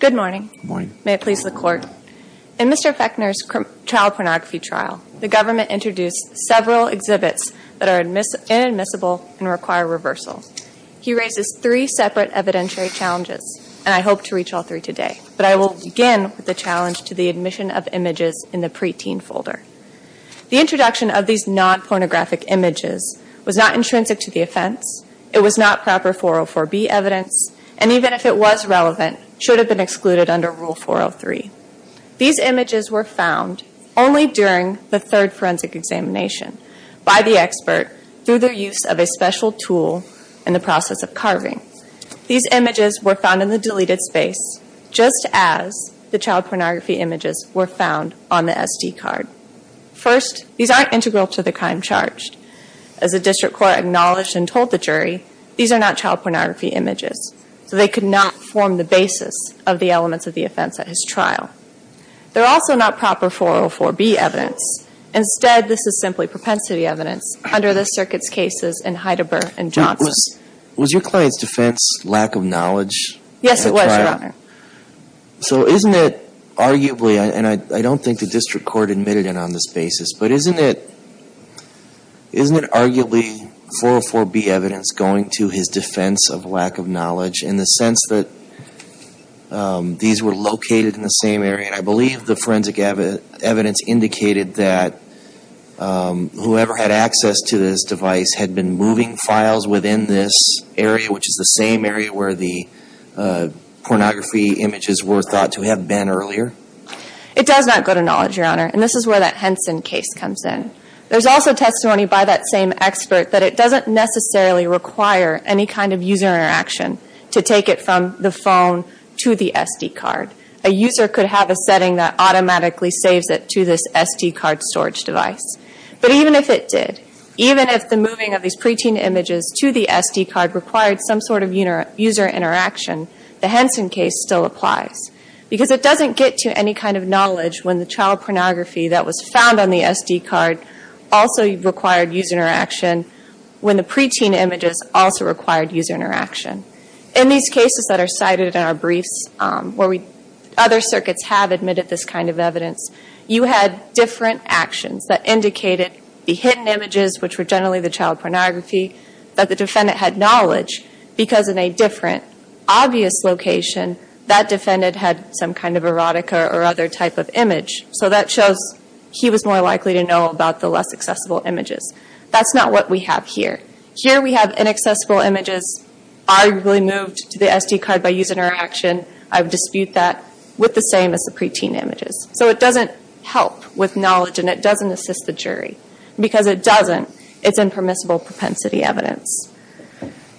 Good morning. May it please the court. In Mr. Fechner's child pornography trial, the government introduced several exhibits that are inadmissible and require reversal. He raises three separate evidentiary challenges, and I hope to reach all three today. But I will begin with the challenge to the admission of images in the preteen folder. The introduction of these non-pornographic images was not intrinsic to the offense, it was not proper 404B evidence, and even if it was relevant, it should have been excluded under Rule 403. These images were found only during the third forensic examination by the expert through the use of a special tool in the process of carving. These images were found in the deleted space just as the child pornography images were found on the SD card. First, these aren't integral to the crime charged. As the district court acknowledged and told the jury, these are not child pornography images, so they could not form the basis of the elements of the offense at his trial. They're also not proper 404B evidence. Instead, this is simply propensity evidence under the circuit's cases in Heideberg and Johnson. Was your client's defense lack of knowledge? Yes, it was, Your Honor. So isn't it arguably, and I don't think the district court admitted it on this basis, but isn't it arguably 404B evidence going to his defense of lack of knowledge in the sense that these were located in the same area? I believe the forensic evidence indicated that whoever had access to this device had been moving files within this area, which is the same area where the pornography images were thought to have been earlier. It does not go to knowledge, Your Honor, and this is where that Henson case comes in. There's also testimony by that same expert that it doesn't necessarily require any kind of user interaction to take it from the phone to the SD card. A user could have a setting that was SD card storage device. But even if it did, even if the moving of these preteen images to the SD card required some sort of user interaction, the Henson case still applies. Because it doesn't get to any kind of knowledge when the child pornography that was found on the SD card also required user interaction, when the preteen images also required user interaction. In these cases that are cited in our briefs, where other circuits have admitted this kind of evidence, you had different actions that indicated the hidden images, which were generally the child pornography, that the defendant had knowledge, because in a different obvious location that defendant had some kind of erotica or other type of image. So that shows he was more likely to know about the less accessible images. That's not what we have here. Here we have inaccessible images arguably moved to the SD card by user interaction. And I dispute that with the same as the preteen images. So it doesn't help with knowledge and it doesn't assist the jury. Because it doesn't, it's impermissible propensity evidence.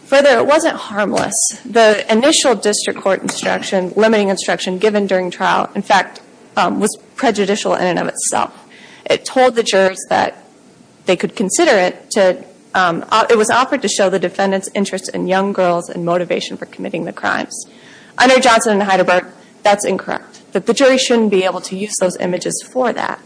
Further, it wasn't harmless. The initial district court instruction, limiting instruction given during trial, in fact, was prejudicial in and of itself. It told the jurors that they could consider it to, it was offered to show the defendant's interest in young children's crimes. Under Johnson and Heidelberg, that's incorrect. The jury shouldn't be able to use those images for that.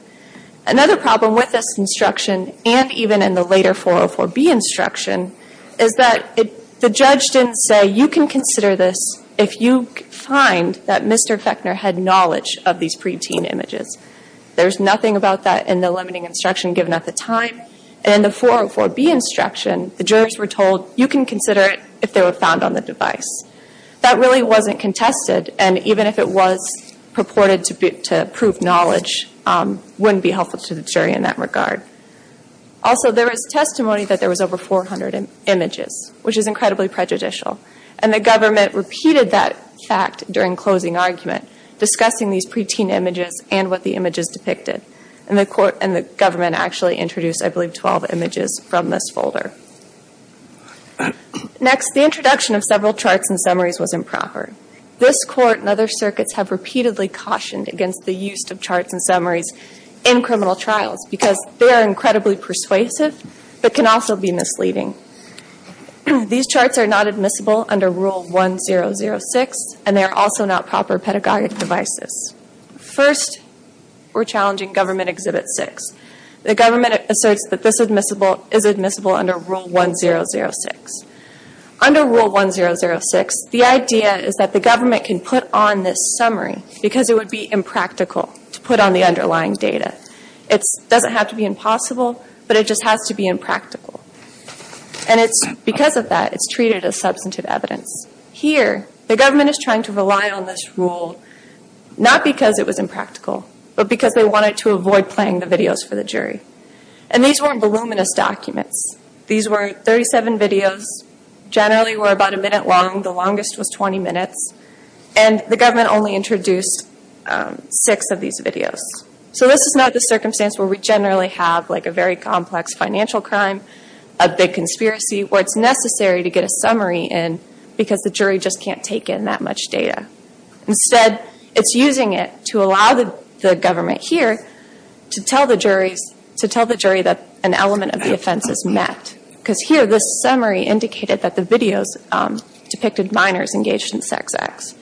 Another problem with this instruction, and even in the later 404B instruction, is that the judge didn't say, you can consider this if you find that Mr. Fechner had knowledge of these preteen images. There's nothing about that in the limiting instruction given at the time. And in the 404B instruction, the jurors were told, you can consider it if they were found on the device. That really wasn't contested, and even if it was purported to prove knowledge, wouldn't be helpful to the jury in that regard. Also there is testimony that there was over 400 images, which is incredibly prejudicial. And the government repeated that fact during closing argument, discussing these preteen images and what the images depicted. And the court, and the government actually introduced, I believe, 12 images from this folder. Next, the introduction of several charts and summaries was improper. This court and other circuits have repeatedly cautioned against the use of charts and summaries in criminal trials because they are incredibly persuasive, but can also be misleading. These charts are not admissible under Rule 1006, and they are also not proper pedagogic devices. First, we're challenging Government Exhibit 6. The government asserts that this is admissible under Rule 1006. Under Rule 1006, the idea is that the government can put on this summary because it would be impractical to put on the underlying data. It doesn't have to be impossible, but it just has to be impractical. And it's because of that, it's treated as substantive evidence. Here, the government is trying to rely on this rule, not because it was impractical, but because they wanted to avoid playing the videos for the jury. And these weren't voluminous documents. These were 37 videos, generally about a minute long, the longest was 20 minutes, and the government only introduced 6 of these videos. So this is not the circumstance where we generally have a very complex financial crime, a big conspiracy, where it's necessary to get a summary in because the jury just can't take in that much data. Instead, it's using it to allow the government here to tell the juries that an element of the offense is met. Because here, this summary indicated that the videos depicted minors engaged in sex acts.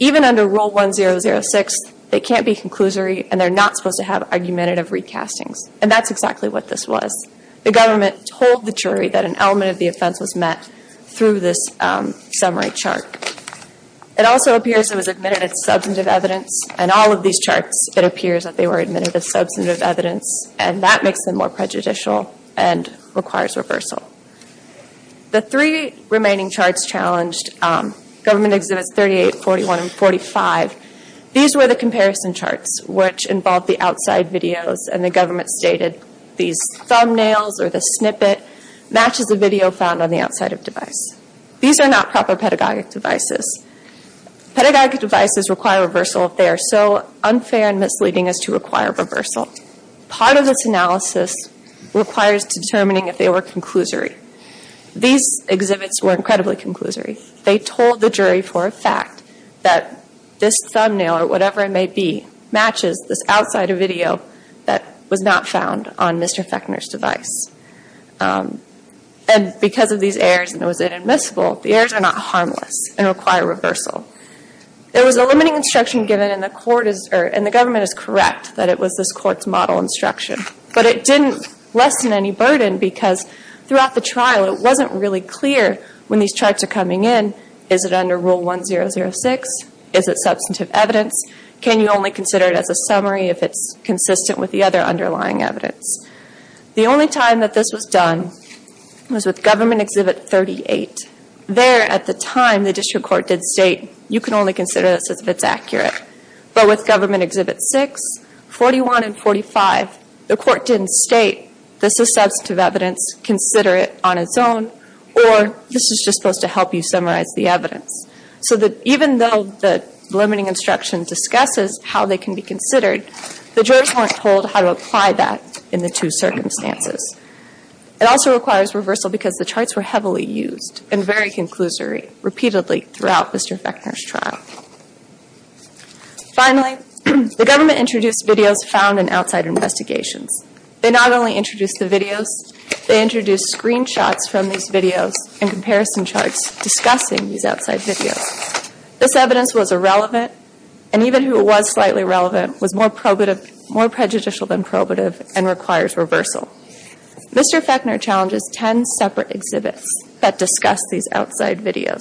Even under Rule 1006, they can't be conclusory and they're not supposed to have argumentative recastings. And that's exactly what this was. The government told the jury that an element of the offense was met through this summary chart. It also appears it was admitted as substantive evidence. In all of these charts, it appears that they were admitted as substantive evidence, and that makes them more prejudicial and requires reversal. The three remaining charts challenged, Government Exhibits 38, 41, and 45, these were the comparison charts, which involved the outside videos and the government stated these thumbnails or this snippet matches a video found on the outside of the device. These are not proper pedagogic devices. Pedagogic devices require reversal if they are so unfair and misleading as to require reversal. Part of this analysis requires determining if they were conclusory. These exhibits were incredibly conclusory. They told the jury for a fact that this thumbnail, or whatever it may be, matches this outside of video that was not found on Mr. Fechner's device. And because of these errors and it was inadmissible, the errors are not harmless and require reversal. There was a limiting instruction given and the government is correct that it was this court's model instruction. But it didn't lessen any burden because throughout the trial, it wasn't really clear when these charts are coming in, is it under Rule 1006? Is it substantive evidence? Can you only consider it as a summary if it's consistent with the other underlying evidence? The only time that this was done was with Government Exhibit 38. There, at the time, the district court did state, you can only consider this if it's accurate. But with Government Exhibit 6, 41, and 45, the court didn't state, this is substantive evidence, consider it on its own, or this is just supposed to help you summarize the evidence. So that even though the limiting instruction discusses how they can be considered, the jurors weren't told how to apply that in the two circumstances. It also requires reversal because the charts were heavily used and very conclusory, repeatedly throughout Mr. Fechner's trial. Finally, the government introduced videos found in outside investigations. They not only introduced the videos, they introduced screenshots from these videos and comparison charts discussing these outside videos. This evidence was irrelevant and even who was slightly relevant was more prejudicial than probative and requires reversal. Mr. Fechner challenges 10 separate exhibits that discuss these outside videos.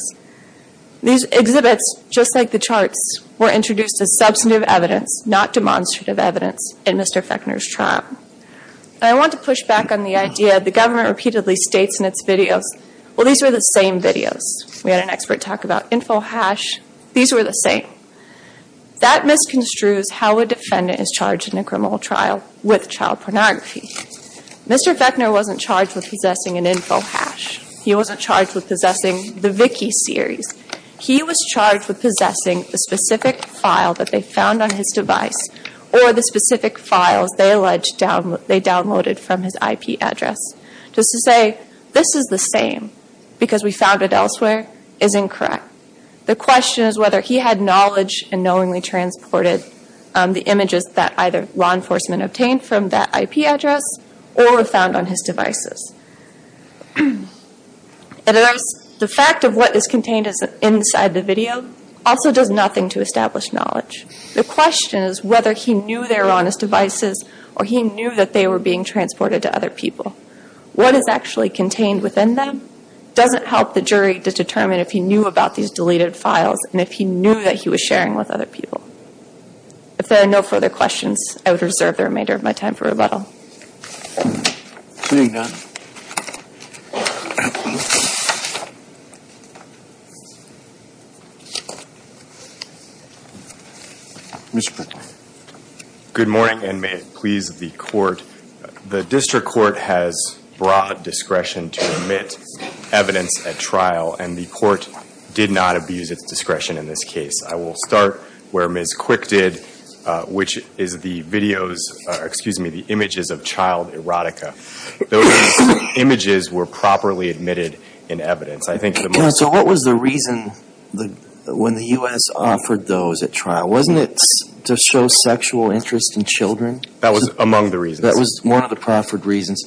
These exhibits, just like the charts, were introduced as substantive evidence, not demonstrative evidence, in Mr. Fechner's trial. I want to push back on the idea the government repeatedly states in its videos, well these were the same videos. We had an expert talk about InfoHash. These were the same. That misconstrues how a defendant is charged in a criminal trial with child pornography. Mr. Fechner wasn't charged with possessing an InfoHash. He wasn't charged with possessing the Vicky series. He was charged with possessing the specific file that they found on his device or the specific files they alleged they downloaded from his IP address. Just to say this is the same because we found it elsewhere is incorrect. The question is whether he had knowledge and knowingly transported the images that either law enforcement obtained from that IP address or were found on his devices. The fact of what is contained inside the video also does nothing to establish knowledge. The question is whether he knew they were on his devices or he knew that they were being transported to other people. What is actually contained within them doesn't help the jury to determine if he knew about these deleted files and if he knew that he was sharing with other people. If there are no further questions, I would reserve the remainder of my time for questions. Seeing none, Mr. Fechner. Good morning and may it please the court. The district court has broad discretion to omit evidence at trial and the court did not abuse its discretion in this case. I will start where Ms. Quick did, which is the images of child erotica. Those images were properly admitted in evidence. So what was the reason when the U.S. offered those at trial? Wasn't it to show sexual interest in children? That was among the reasons. That was one of the proffered reasons.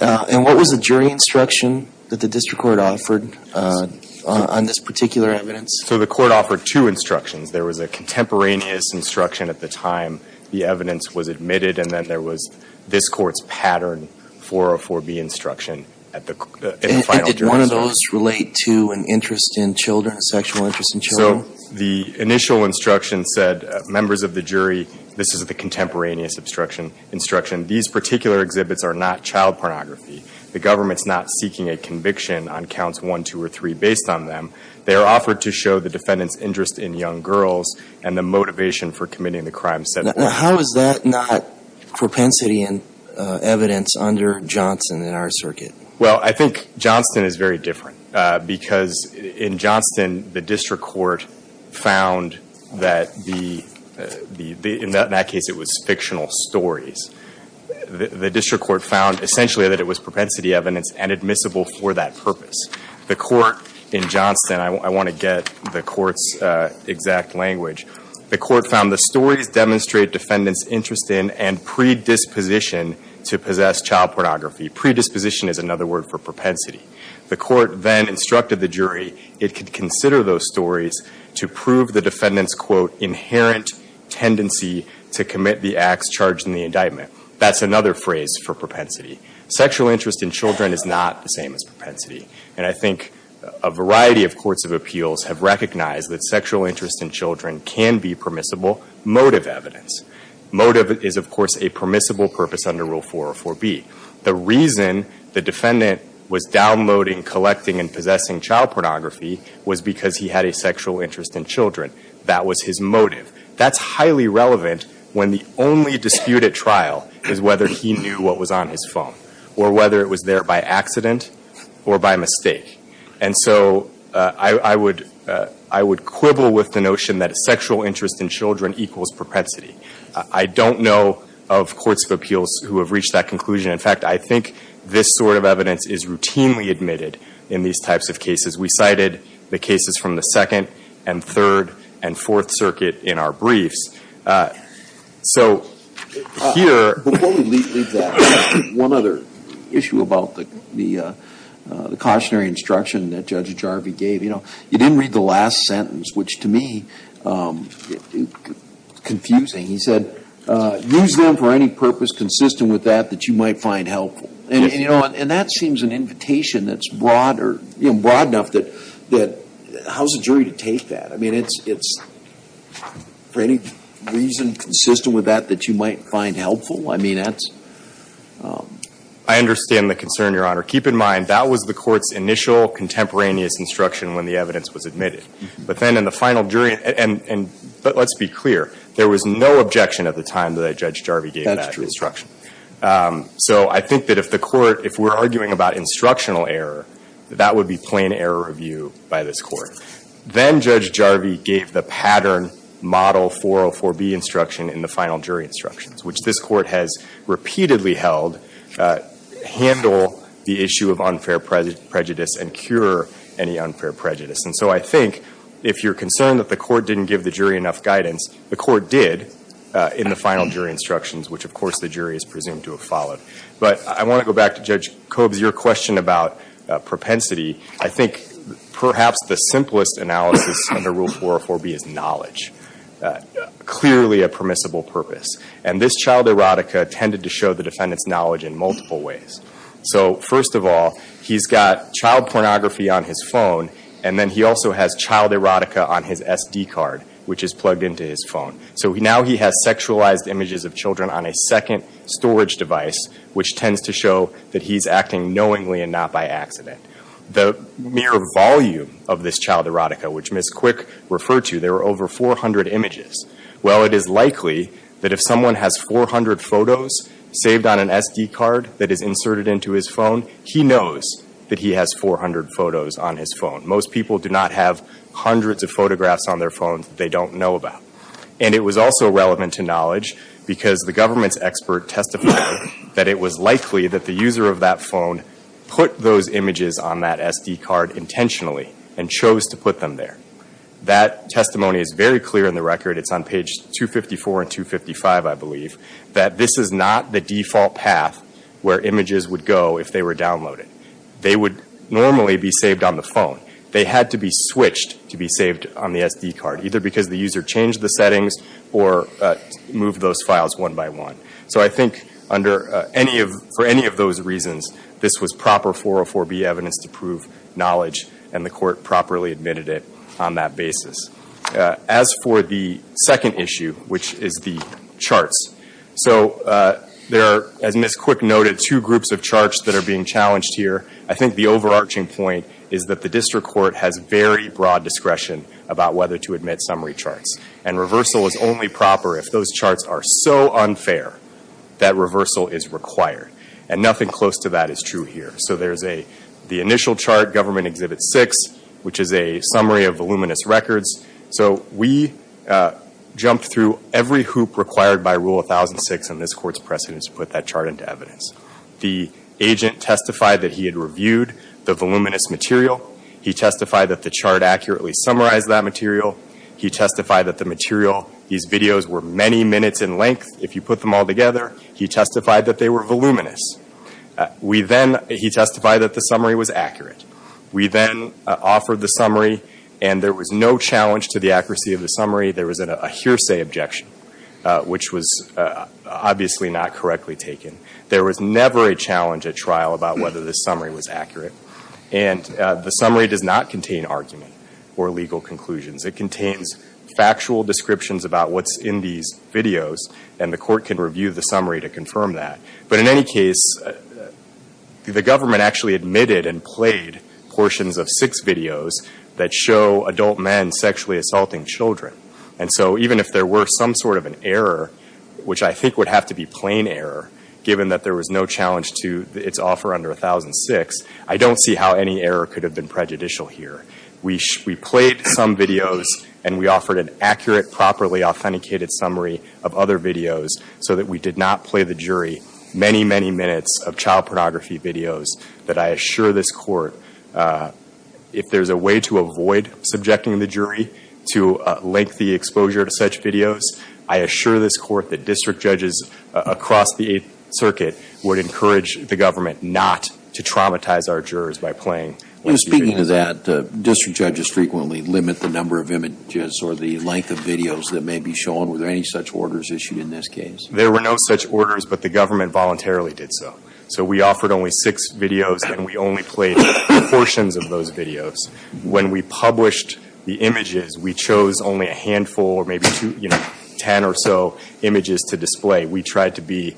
And what was the jury instruction that the district court offered on this particular evidence? So the court offered two instructions. There was a contemporaneous instruction at the time the evidence was admitted and then there was this court's pattern 404B instruction at the final jury. And did one of those relate to an interest in children, a sexual interest in children? So the initial instruction said, members of the jury, this is the contemporaneous instruction. These particular exhibits are not child pornography. The government is not seeking a conviction on counts 1, 2, or 3 based on them. They are offered to show the defendant's interest in young girls and the motivation for committing the crime. Now, how is that not propensity in evidence under Johnston in our circuit? Well, I think Johnston is very different because in Johnston the district court found that the, in that case it was fictional stories. The district court found essentially that it was propensity evidence and admissible for that purpose. The court in Johnston, I want to get the court's exact language. The court found the stories demonstrate defendant's interest in and predisposition to possess child pornography. Predisposition is another word for propensity. The court then instructed the jury it could consider those stories to prove the defendant's, quote, inherent tendency to commit the acts charged in the indictment. That's another phrase for propensity. Sexual interest in children is not the same as propensity. And I think a variety of courts of appeals have recognized that sexual interest in children can be permissible motive evidence. Motive is, of course, a permissible purpose under Rule 404B. The reason the defendant was downloading, collecting, and possessing child pornography was because he had a sexual interest in children. That was his motive. That's highly relevant when the only dispute at trial is whether he knew what was on his phone or whether it was there by accident or by mistake. And so I would quibble with the notion that a sexual interest in children equals propensity. I don't know of courts of appeals who have reached that conclusion. In fact, I think this sort of evidence is routinely admitted in these types of cases. We cited the cases from the Second and Third and Fourth Circuit in our briefs. So here – Before we leave that, one other issue about the cautionary instruction that Judge Jarvi gave. You know, you didn't read the last sentence, which to me is confusing. He said, use them for any purpose consistent with that that you might find helpful. And, you know, and that seems an invitation that's broad or, you know, broad enough that – how's a jury to take that? I mean, it's for any reason consistent with that that you might find helpful? I mean, that's – I understand the concern, Your Honor. Keep in mind, that was the Court's initial contemporaneous instruction when the evidence was admitted. But then in the final jury – and let's be clear, there was no objection at the time that Judge Jarvi gave that instruction. So I think that if the Court – if we're arguing about instructional error, that would be plain error of view by this Court. Then Judge Jarvi gave the pattern model 404B instruction in the final jury instructions, which this Court has repeatedly held handle the issue of unfair prejudice and cure any unfair prejudice. And so I think if you're concerned that the Court didn't give the jury enough guidance, the Court did in the final jury instructions, which, of course, the jury is presumed to have followed. But I want to go back to Judge Koob's – your question about propensity. I think perhaps the simplest analysis under Rule 404B is knowledge. Clearly a permissible purpose. And this child erotica tended to show the defendant's knowledge in multiple ways. So first of all, he's got child pornography on his phone, and then he also has child erotica on his SD card, which is plugged into his phone. So now he has sexualized images of her on a second storage device, which tends to show that he's acting knowingly and not by accident. The mere volume of this child erotica, which Ms. Quick referred to, there were over 400 images. Well, it is likely that if someone has 400 photos saved on an SD card that is inserted into his phone, he knows that he has 400 photos on his phone. Most people do not have hundreds of photographs on their phones that they don't know about. And it was also relevant to knowledge because the government's expert testified that it was likely that the user of that phone put those images on that SD card intentionally and chose to put them there. That testimony is very clear in the record. It's on page 254 and 255, I believe, that this is not the default path where images would go if they were downloaded. They would normally be saved on the phone. They had to be switched to be the settings or move those files one by one. So I think for any of those reasons, this was proper 404B evidence to prove knowledge and the court properly admitted it on that basis. As for the second issue, which is the charts, so there are, as Ms. Quick noted, two groups of charts that are being challenged here. I think the overarching point is that the district court has very broad discretion about whether to admit summary charts. And reversal is only proper if those charts are so unfair that reversal is required. And nothing close to that is true here. So there's the initial chart, Government Exhibit 6, which is a summary of voluminous records. So we jumped through every hoop required by Rule 1006 and this Court's precedent to put that chart into evidence. The agent testified that he had reviewed the voluminous material. He testified that the material, these videos were many minutes in length. If you put them all together, he testified that they were voluminous. We then, he testified that the summary was accurate. We then offered the summary and there was no challenge to the accuracy of the summary. There was a hearsay objection, which was obviously not correctly taken. There was never a challenge at trial about whether the summary was accurate. And the summary does not contain argument or legal conclusions. It contains factual descriptions about what's in these videos and the Court can review the summary to confirm that. But in any case, the government actually admitted and played portions of six videos that show adult men sexually assaulting children. And so even if there were some sort of an error, which I think would have to be plain error, given that there was no challenge to its offer under 1006, I don't see how any error could have been prejudicial here. We played some videos and we offered an accurate, properly authenticated summary of other videos so that we did not play the jury many, many minutes of child pornography videos that I assure this Court, if there's a way to avoid subjecting the jury to lengthy exposure to such videos, I assure this Court that district judges across the Eighth Circuit would encourage the government not to traumatize our jurors by playing Speaking of that, district judges frequently limit the number of images or the length of videos that may be shown. Were there any such orders issued in this case? There were no such orders, but the government voluntarily did so. So we offered only six videos and we only played portions of those videos. When we published the images, we chose only a handful or maybe two, you know, ten or so images to display. We tried to be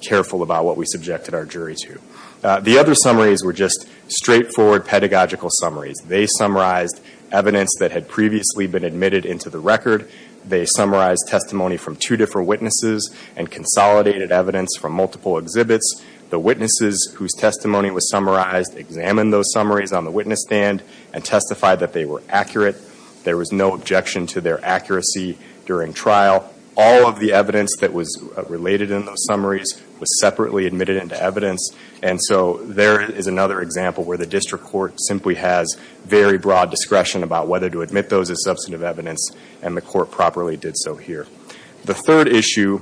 careful about what we subjected our jury to. The other summaries were just straightforward pedagogical summaries. They summarized evidence that had previously been admitted into the record. They summarized testimony from two different witnesses and consolidated evidence from multiple exhibits. The witnesses whose testimony was summarized examined those summaries on the witness stand and testified that they were accurate. There was no objection to their evidence. And so there is another example where the district court simply has very broad discretion about whether to admit those as substantive evidence, and the court properly did so here. The third issue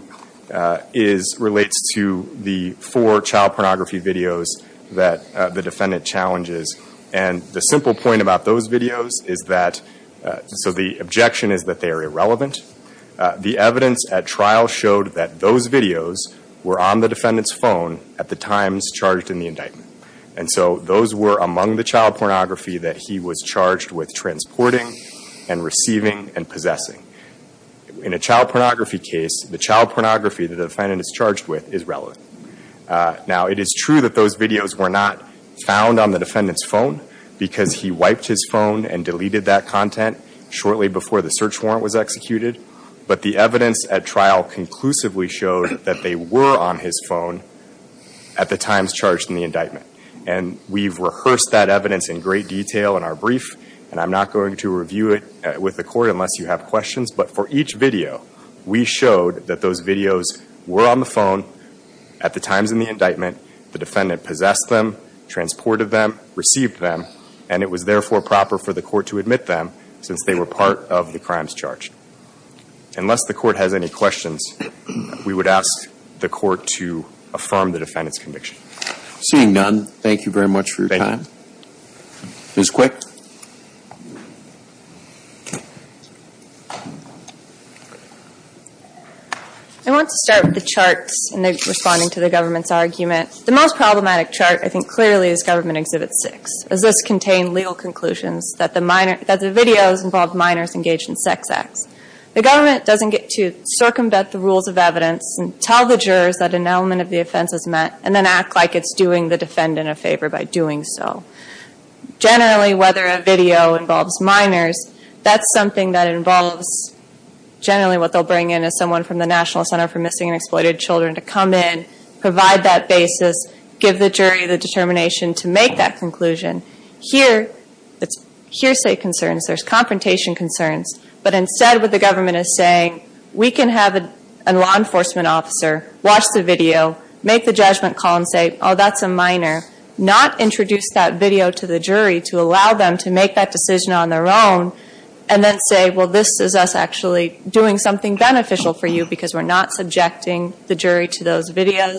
relates to the four child pornography videos that the defendant challenges. And the simple point about those videos is that, so the objection is that they are irrelevant. The evidence at trial showed that those videos were on the defendant's phone at the times charged in the indictment. And so those were among the child pornography that he was charged with transporting and receiving and possessing. In a child pornography case, the child pornography the defendant is charged with is relevant. Now it is true that those videos were not found on the defendant's phone because he wiped his phone and deleted that content shortly before the search warrant was executed. But the evidence at trial conclusively showed that they were on his phone at the times charged in the indictment. And we've rehearsed that evidence in great detail in our brief, and I'm not going to review it with the court unless you have questions. But for each video, we showed that those videos were on the phone at the times in the indictment. The defendant possessed them, transported them, received them, and it was therefore proper for the court to admit them since they were part of the crimes charged. Unless the court has any questions, we would ask the court to affirm the defendant's conviction. Seeing none, thank you very much for your time. Thank you. Ms. Quick. I want to start with the charts in responding to the government's argument. The most problematic chart I think clearly is Government Exhibit 6, as this contained legal conclusions that the videos involved minors engaged in sex acts. The government doesn't get to circumvent the rules of evidence and tell the jurors that an element of the offense is met and then act like it's doing the defendant a favor by doing so. Generally, whether a video involves minors, that's something that involves, generally what they'll bring in is someone from the National Center for Missing and Exploited Children to come in, provide that basis, give the jury the determination to make that conclusion. Here, it's hearsay concerns. There's confrontation concerns. But instead, what the government is saying, we can have a law enforcement officer watch the video, make the judgment call and say, oh, that's a minor, not introduce that video to the jury to allow them to make that decision on their own, and then say, well, this is us actually doing something beneficial for you because we're not subjecting the jury to those videos,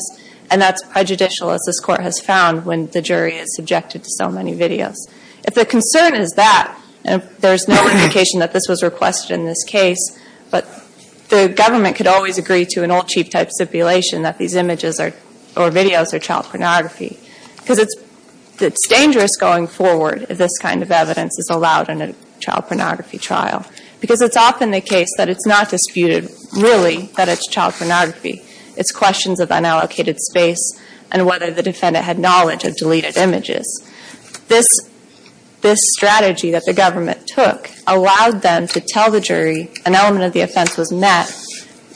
and that's prejudicial, as this Court has found, when the jury is subjected to so many videos. If the concern is that, and there's no indication that this was requested in this case, but the government could always agree to an old cheap type stipulation that these images or videos are child pornography, because it's dangerous going forward if this kind of evidence is allowed in a child pornography trial, because it's often the case that it's not disputed, really, that it's child pornography. It's questions of unallocated space and whether the defendant had knowledge of deleted images. This strategy that the government took allowed them to tell the jury an element of the offense was met,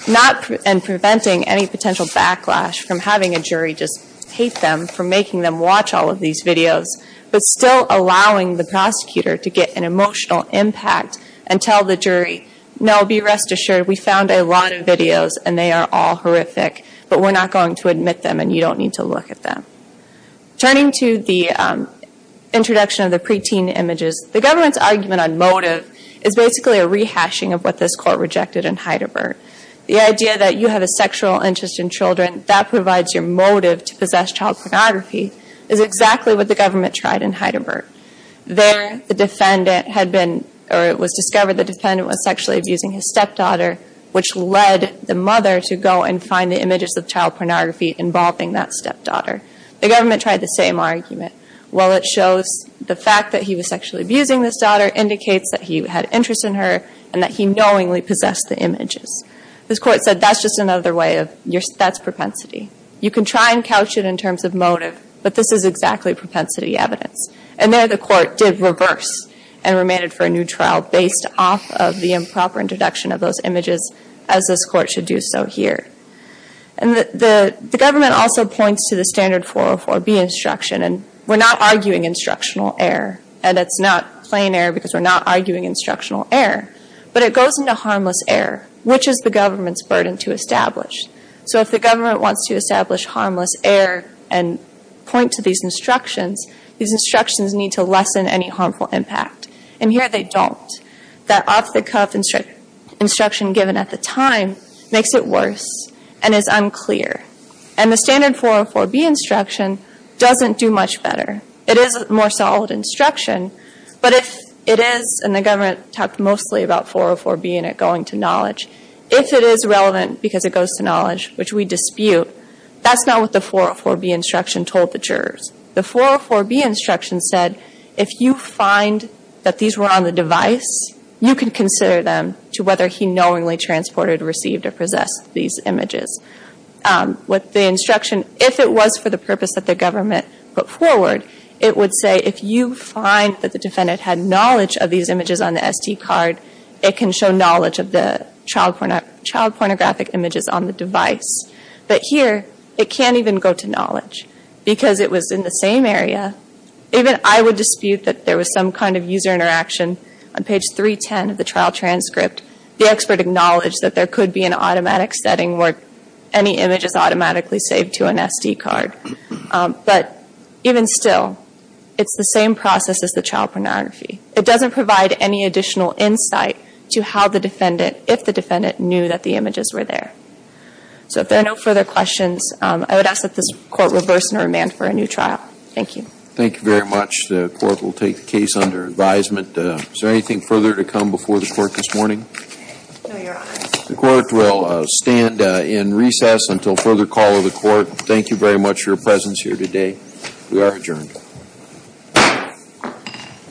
not in preventing any potential backlash from having a jury just hate them for making them watch all of these videos, but still allowing the prosecutor to get an emotional impact and tell the jury, no, be rest assured, we found a lot of videos and they are all horrific, but we're not going to admit them and you don't need to look at them. Turning to the introduction of the preteen images, the government's argument on motive is basically a rehashing of what this Court rejected in Heideberg. The idea that you have a sexual interest in children, that provides your motive to possess child pornography, is exactly what the government tried in Heideberg. There, the defendant had been, or it was discovered the defendant was sexually abusing his stepdaughter, which led the mother to go and find the images of child pornography involving that stepdaughter. The government tried the same argument. Well, it shows the fact that he was sexually abusing this daughter indicates that he had interest in her and that he knowingly possessed the images. This Court said that's just another way of, that's propensity. You can try and couch it in terms of motive, but this is exactly propensity evidence. And there the Court did reverse and remanded for a new trial based off of the improper introduction of those images as this Court should do so here. And the government also points to the standard 404B instruction and we're not arguing instructional error and it's not plain error because we're not arguing instructional error, but it goes into harmless error, which is the government's burden to establish. So if the government wants to establish harmless error and point to these instructions, these instructions need to lessen any harmful impact. And here they don't. That off-the-cuff instruction given at the time makes it worse and is unclear. And the standard 404B instruction doesn't do much better. It is a more solid instruction, but if it is, and the government talked mostly about 404B and it going to knowledge, if it is relevant because it goes to knowledge, which we dispute, that's not what the 404B instruction told the jurors. The 404B instruction said if you find that these were on the device, you can consider them to whether he knowingly transported, received, or possessed these images. What the instruction, if it was for the purpose that the government put forward, it would say if you find that the defendant had knowledge of these images on the SD card, it can show knowledge of the child pornographic images on the device. But here, it can't even go to knowledge because it was in the same area. Even I would dispute that there was some kind of user interaction on page 310 of the trial transcript. The expert acknowledged that there could be an automatic setting where any image is automatically saved to an SD card. But even still, it's the same process as the child pornography. It doesn't provide any additional insight to how the defendant, if the defendant, knew that the images were there. So if there are no further questions, I would ask that this Court reverse and remand for a new trial. Thank you. Thank you very much. The Court will take the case under advisement. Is there anything further to come before the Court this morning? No, Your Honor. The Court will stand in recess until further call of the Court. Thank you very much for your presence here today. We are adjourned.